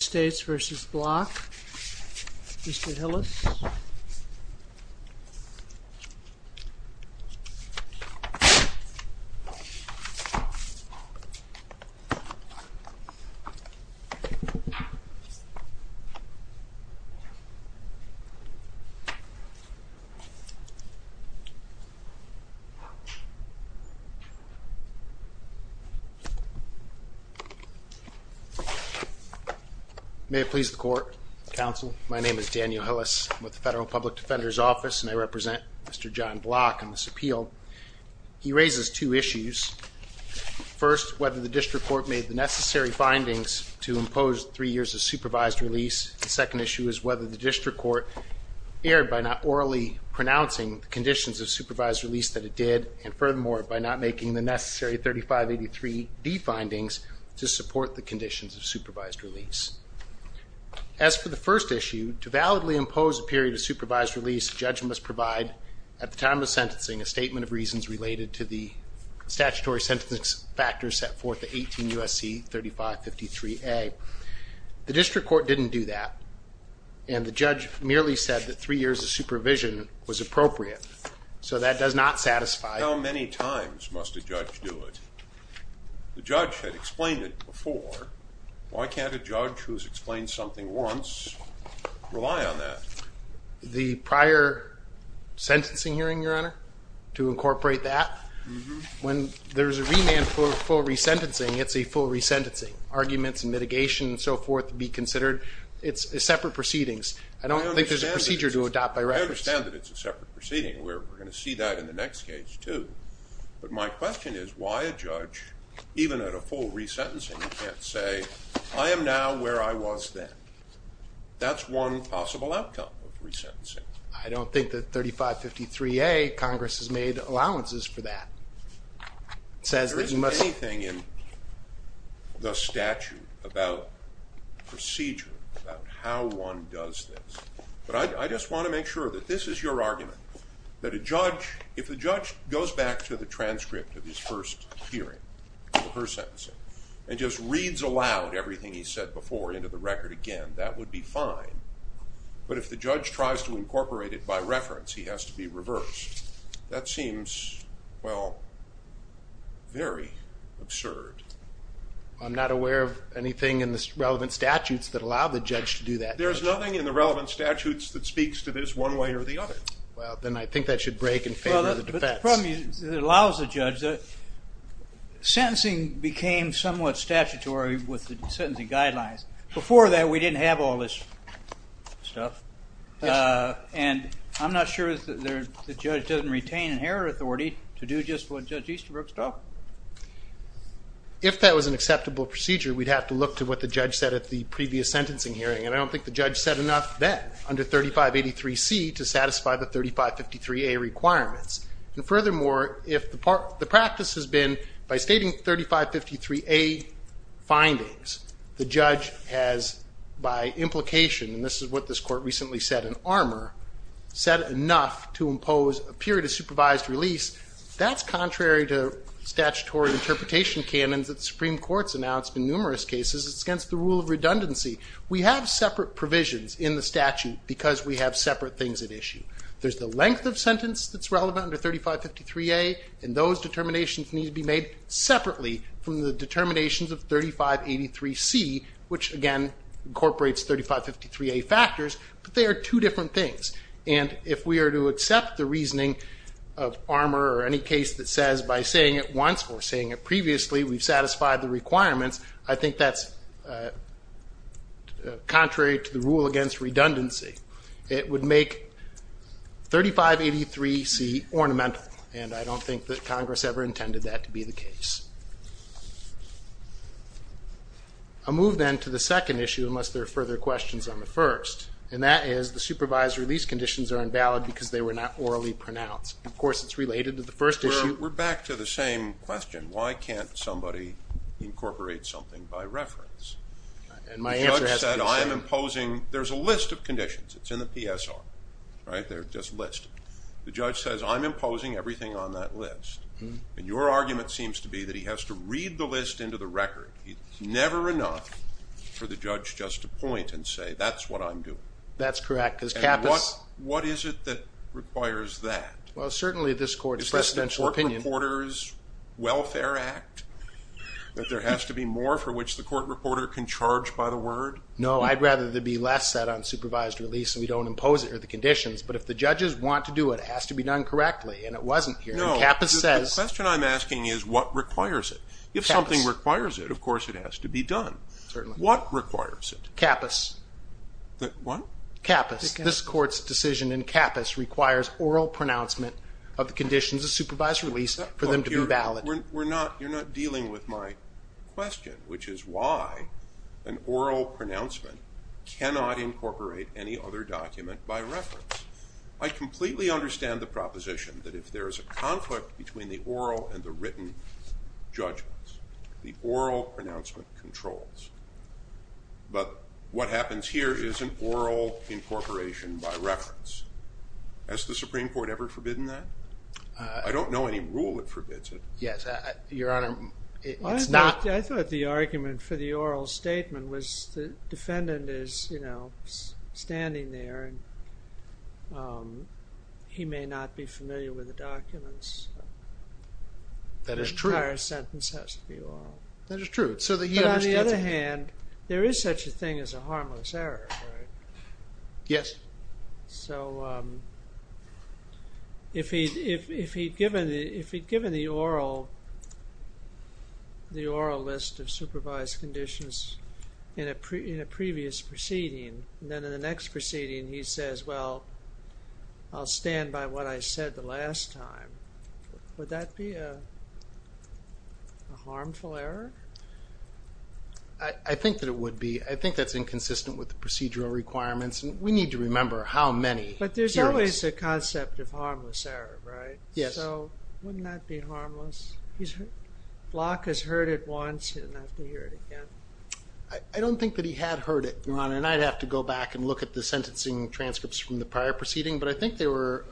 United States v. Bloch, Mr. Hillis May it please the Court, Counsel. My name is Daniel Hillis. I'm with the Federal Public Defender's Office, and I represent Mr. John Bloch on this appeal. He raises two issues. First, whether the District Court made the necessary findings to impose three years of supervised release. The second issue is whether the District Court erred by not orally pronouncing the conditions of supervised release that it did, and furthermore, by not making the necessary 3583D findings to support the conditions of supervised release. As for the first issue, to validly impose a period of supervised release, a judge must provide, at the time of sentencing, a statement of reasons related to the statutory sentencing factors set forth at 18 U.S.C. 3553A. The District Court didn't do that, and the judge merely said that three years of supervision was appropriate. So that does not satisfy. How many times must a judge do it? The judge had explained it before. Why can't a judge who's explained something once rely on that? The prior sentencing hearing, Your Honor, to incorporate that. When there's a remand for full resentencing, it's a full resentencing. Arguments and mitigation and so forth be considered. It's separate proceedings. I don't think there's a procedure to adopt by records. I understand that it's a separate proceeding. We're going to see that in the next case, too. But my question is, why a judge, even at a full resentencing, can't say, I am now where I was then? That's one possible outcome of resentencing. I don't think that 3553A, Congress has made allowances for that. There isn't anything in the statute about procedure, about how one does this. But I just want to make sure that this is your argument, that if the judge goes back to the transcript of his first hearing, of her sentencing, and just reads aloud everything he said before into the record again, that would be fine. But if the judge tries to incorporate it by reference, he has to be reversed. That seems, well, very absurd. I'm not aware of anything in the relevant statutes that allow the judge to do that. There's nothing in the relevant statutes that speaks to this one way or the other. Well, then I think that should break in favor of the defense. The problem is, it allows the judge. Sentencing became somewhat statutory with the sentencing guidelines. Before that, we didn't have all this stuff. And I'm not sure that the judge doesn't retain inherent authority to do just what Judge Easterbrook's told. If that was an acceptable procedure, we'd have to look to what the judge said at the previous sentencing hearing. And I don't think the judge said enough then, under 3583C, to satisfy the 3553A requirements. And furthermore, if the practice has been, by stating 3553A findings, the judge has, by implication, and this is what this court recently said in Armour, said enough to impose a period of supervised release, that's contrary to statutory interpretation canons that the Supreme Court's announced in numerous cases. It's against the rule of redundancy. We have separate provisions in the statute because we have separate things at issue. There's the length of sentence that's relevant under 3553A, and those determinations need to be made separately from the determinations of 3583C, which again incorporates 3553A factors, but they are two different things. And if we are to accept the reasoning of Armour or any case that says, by saying it once or saying it previously, we've satisfied the requirements, I think that's contrary to the rule against redundancy. It would make 3583C ornamental, and I don't think that Congress ever intended that to be the case. I'll move then to the second issue, unless there are further questions on the first, and that is the supervised release conditions are invalid because they were not orally pronounced. Of course, it's related to the first issue. We're back to the same question. Why can't somebody incorporate something by reference? And my answer has to be the same. There's a list of conditions. It's in the PSR. They're just listed. The judge says, I'm imposing everything on that list, and your argument seems to be that he has to read the list into the record. It's never enough for the judge just to point and say, that's what I'm doing. That's correct. And what is it that requires that? Well, certainly this Court's presidential opinion. Is this the Court Reporter's Welfare Act, that there has to be more for which the court reporter can charge by the word? No, I'd rather there be less said on supervised release, and we don't impose it or the conditions. But if the judges want to do it, it has to be done correctly, and it wasn't here. No, the question I'm asking is what requires it. If something requires it, of course it has to be done. Certainly. What requires it? CAPAS. What? CAPAS. This Court's decision in CAPAS requires oral pronouncement of the conditions of supervised release for them to be valid. You're not dealing with my question, which is why an oral pronouncement cannot incorporate any other document by reference. I completely understand the proposition that if there is a conflict between the oral and the written judgments, the oral pronouncement controls. But what happens here is an oral incorporation by reference. Has the Supreme Court ever forbidden that? I don't know any rule that forbids it. Yes, Your Honor, it's not. I thought the argument for the oral statement was the defendant is, you know, standing there, and he may not be familiar with the documents. That is true. The entire sentence has to be oral. That is true. But on the other hand, there is such a thing as a harmless error, right? Yes. So if he'd given the oral list of supervised conditions in a previous proceeding, and then in the next proceeding he says, well, I'll stand by what I said the last time, would that be a harmful error? I think that it would be. I think that's inconsistent with the procedural requirements. And we need to remember how many hearings. But there's always a concept of harmless error, right? Yes. So wouldn't that be harmless? Block has heard it once. He doesn't have to hear it again. I don't think that he had heard it, Your Honor. And I'd have to go back and look at the sentencing transcripts from the prior proceeding. But I think they were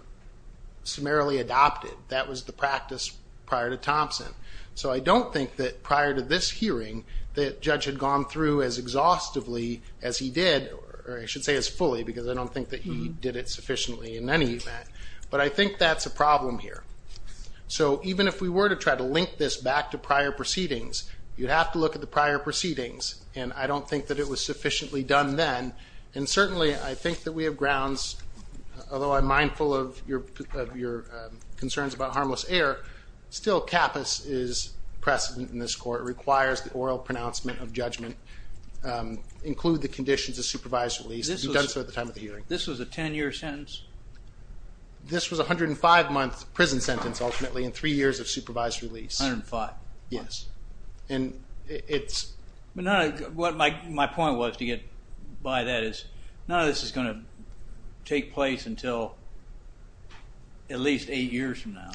summarily adopted. That was the practice prior to Thompson. So I don't think that prior to this hearing, the judge had gone through as exhaustively as he did, or I should say as fully, because I don't think that he did it sufficiently in any event. But I think that's a problem here. So even if we were to try to link this back to prior proceedings, you'd have to look at the prior proceedings. And I don't think that it was sufficiently done then. And certainly I think that we have grounds, although I'm mindful of your concerns about harmless error, still CAPAS is precedent in this court. It requires the oral pronouncement of judgment. Include the conditions of supervised release. You've done so at the time of the hearing. This was a ten-year sentence? This was a 105-month prison sentence, ultimately, and three years of supervised release. A hundred and five. Yes. And it's... My point was to get by that is none of this is going to take place until at least eight years from now.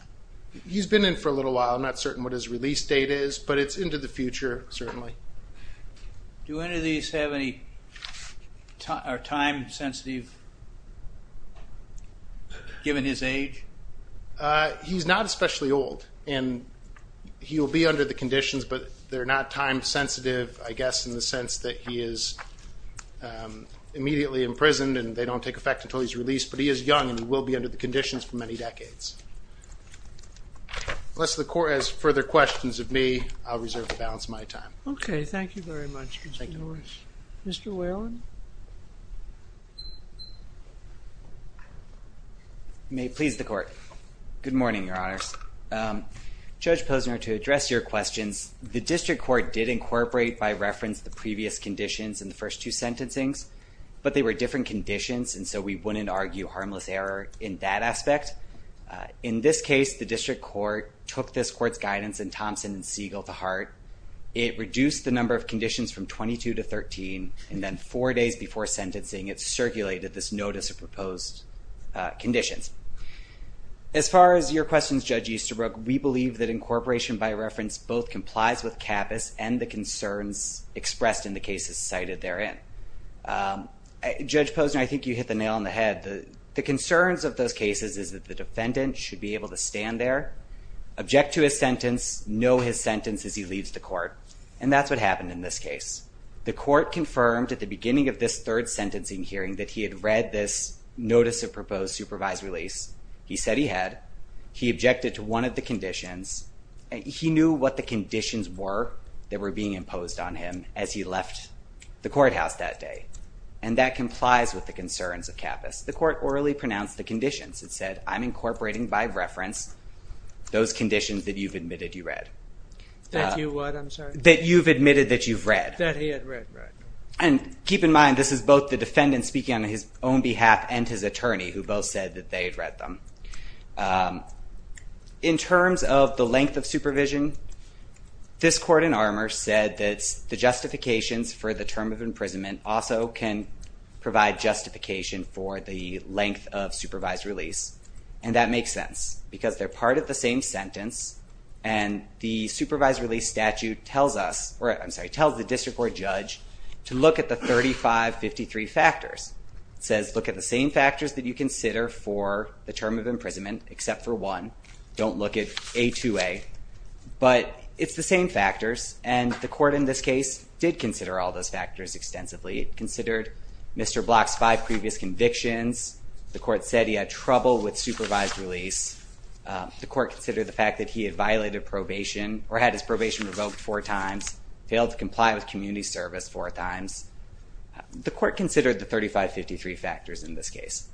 He's been in for a little while. I'm not certain what his release date is, but it's into the future, certainly. Do any of these have any time sensitive, given his age? He's not especially old. And he will be under the conditions, but they're not time sensitive, I guess, in the sense that he is immediately imprisoned and they don't take effect until he's released. But he is young and he will be under the conditions for many decades. Unless the court has further questions of me, I'll reserve the balance of my time. Okay. Thank you very much, Mr. Norris. Thank you. Mr. Whalen? You may please the court. Good morning, Your Honors. Judge Posner, to address your questions, the district court did incorporate by reference the previous conditions in the first two sentencings, but they were different conditions, and so we wouldn't argue harmless error in that aspect. In this case, the district court took this court's guidance in Thompson and Siegel to heart. It reduced the number of conditions from 22 to 13, and then four days before sentencing it circulated this notice of proposed conditions. As far as your questions, Judge Easterbrook, we believe that incorporation by reference both complies with CABIS and the concerns expressed in the cases cited therein. Judge Posner, I think you hit the nail on the head. The concerns of those cases is that the defendant should be able to stand there, object to his sentence, know his sentence as he leaves the court, and that's what happened in this case. The court confirmed at the beginning of this third sentencing hearing that he had read this notice of proposed supervised release. He said he had. He objected to one of the conditions. He knew what the conditions were that were being imposed on him as he left the courthouse that day, and that complies with the concerns of CABIS. The court orally pronounced the conditions. It said, I'm incorporating by reference those conditions that you've admitted you read. That you what? I'm sorry? That you've admitted that you've read. That he had read, right. And keep in mind, this is both the defendant speaking on his own behalf and his attorney who both said that they had read them. In terms of the length of supervision, this court in Armour said that the justifications for the term of imprisonment also can provide justification for the length of supervised release, and that makes sense because they're part of the same sentence, and the supervised release statute tells us, or I'm sorry, tells the district court judge to look at the 3553 factors. It says look at the same factors that you consider for the term of imprisonment except for one. Don't look at A2A, but it's the same factors, and the court in this case did consider all those factors extensively. It considered Mr. Block's five previous convictions. The court said he had trouble with supervised release. The court considered the fact that he had violated probation or had his probation revoked four times, failed to comply with community service four times. The court considered the 3553 factors in this case.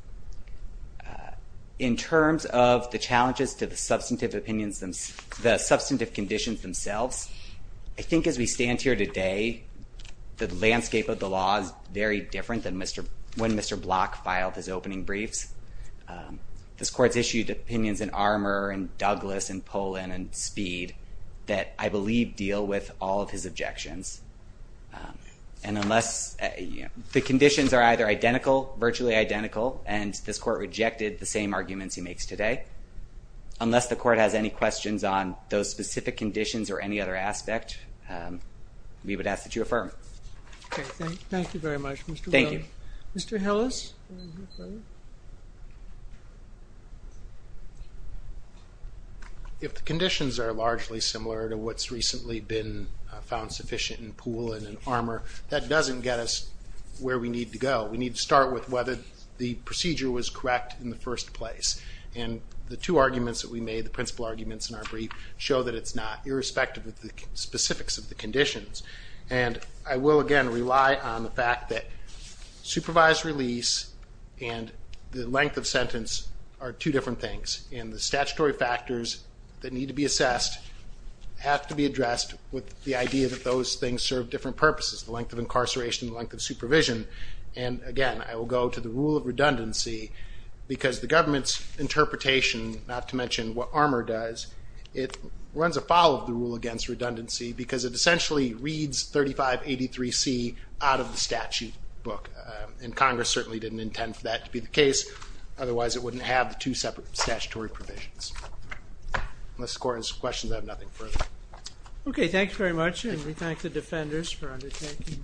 In terms of the challenges to the substantive opinions, the substantive conditions themselves, I think as we stand here today, the landscape of the law is very different than when Mr. Block filed his opening briefs. This court's issued opinions in Armour and Douglas and Pollin and Speed that I believe deal with all of his objections. And unless the conditions are either identical, virtually identical, and this court rejected the same arguments he makes today, unless the court has any questions on those specific conditions or any other aspect, we would ask that you affirm. Okay, thank you very much, Mr. Wells. Thank you. Mr. Hillis? If the conditions are largely similar to what's recently been found sufficient in Pollin and Armour, that doesn't get us where we need to go. We need to start with whether the procedure was correct in the first place. And the two arguments that we made, the principal arguments in our brief, show that it's not, irrespective of the specifics of the conditions. And I will, again, rely on the fact that supervised release and the length of sentence are two different things, and the statutory factors that need to be assessed have to be addressed with the idea that those things serve different purposes, the length of incarceration, the length of supervision. And, again, I will go to the rule of redundancy because the government's interpretation, not to mention what Armour does, it runs afoul of the rule against redundancy because it essentially reads 3583C out of the statute book. And Congress certainly didn't intend for that to be the case, otherwise it wouldn't have the two separate statutory provisions. Unless the Court has questions, I have nothing further. Okay, thank you very much, and we thank the defenders for undertaking.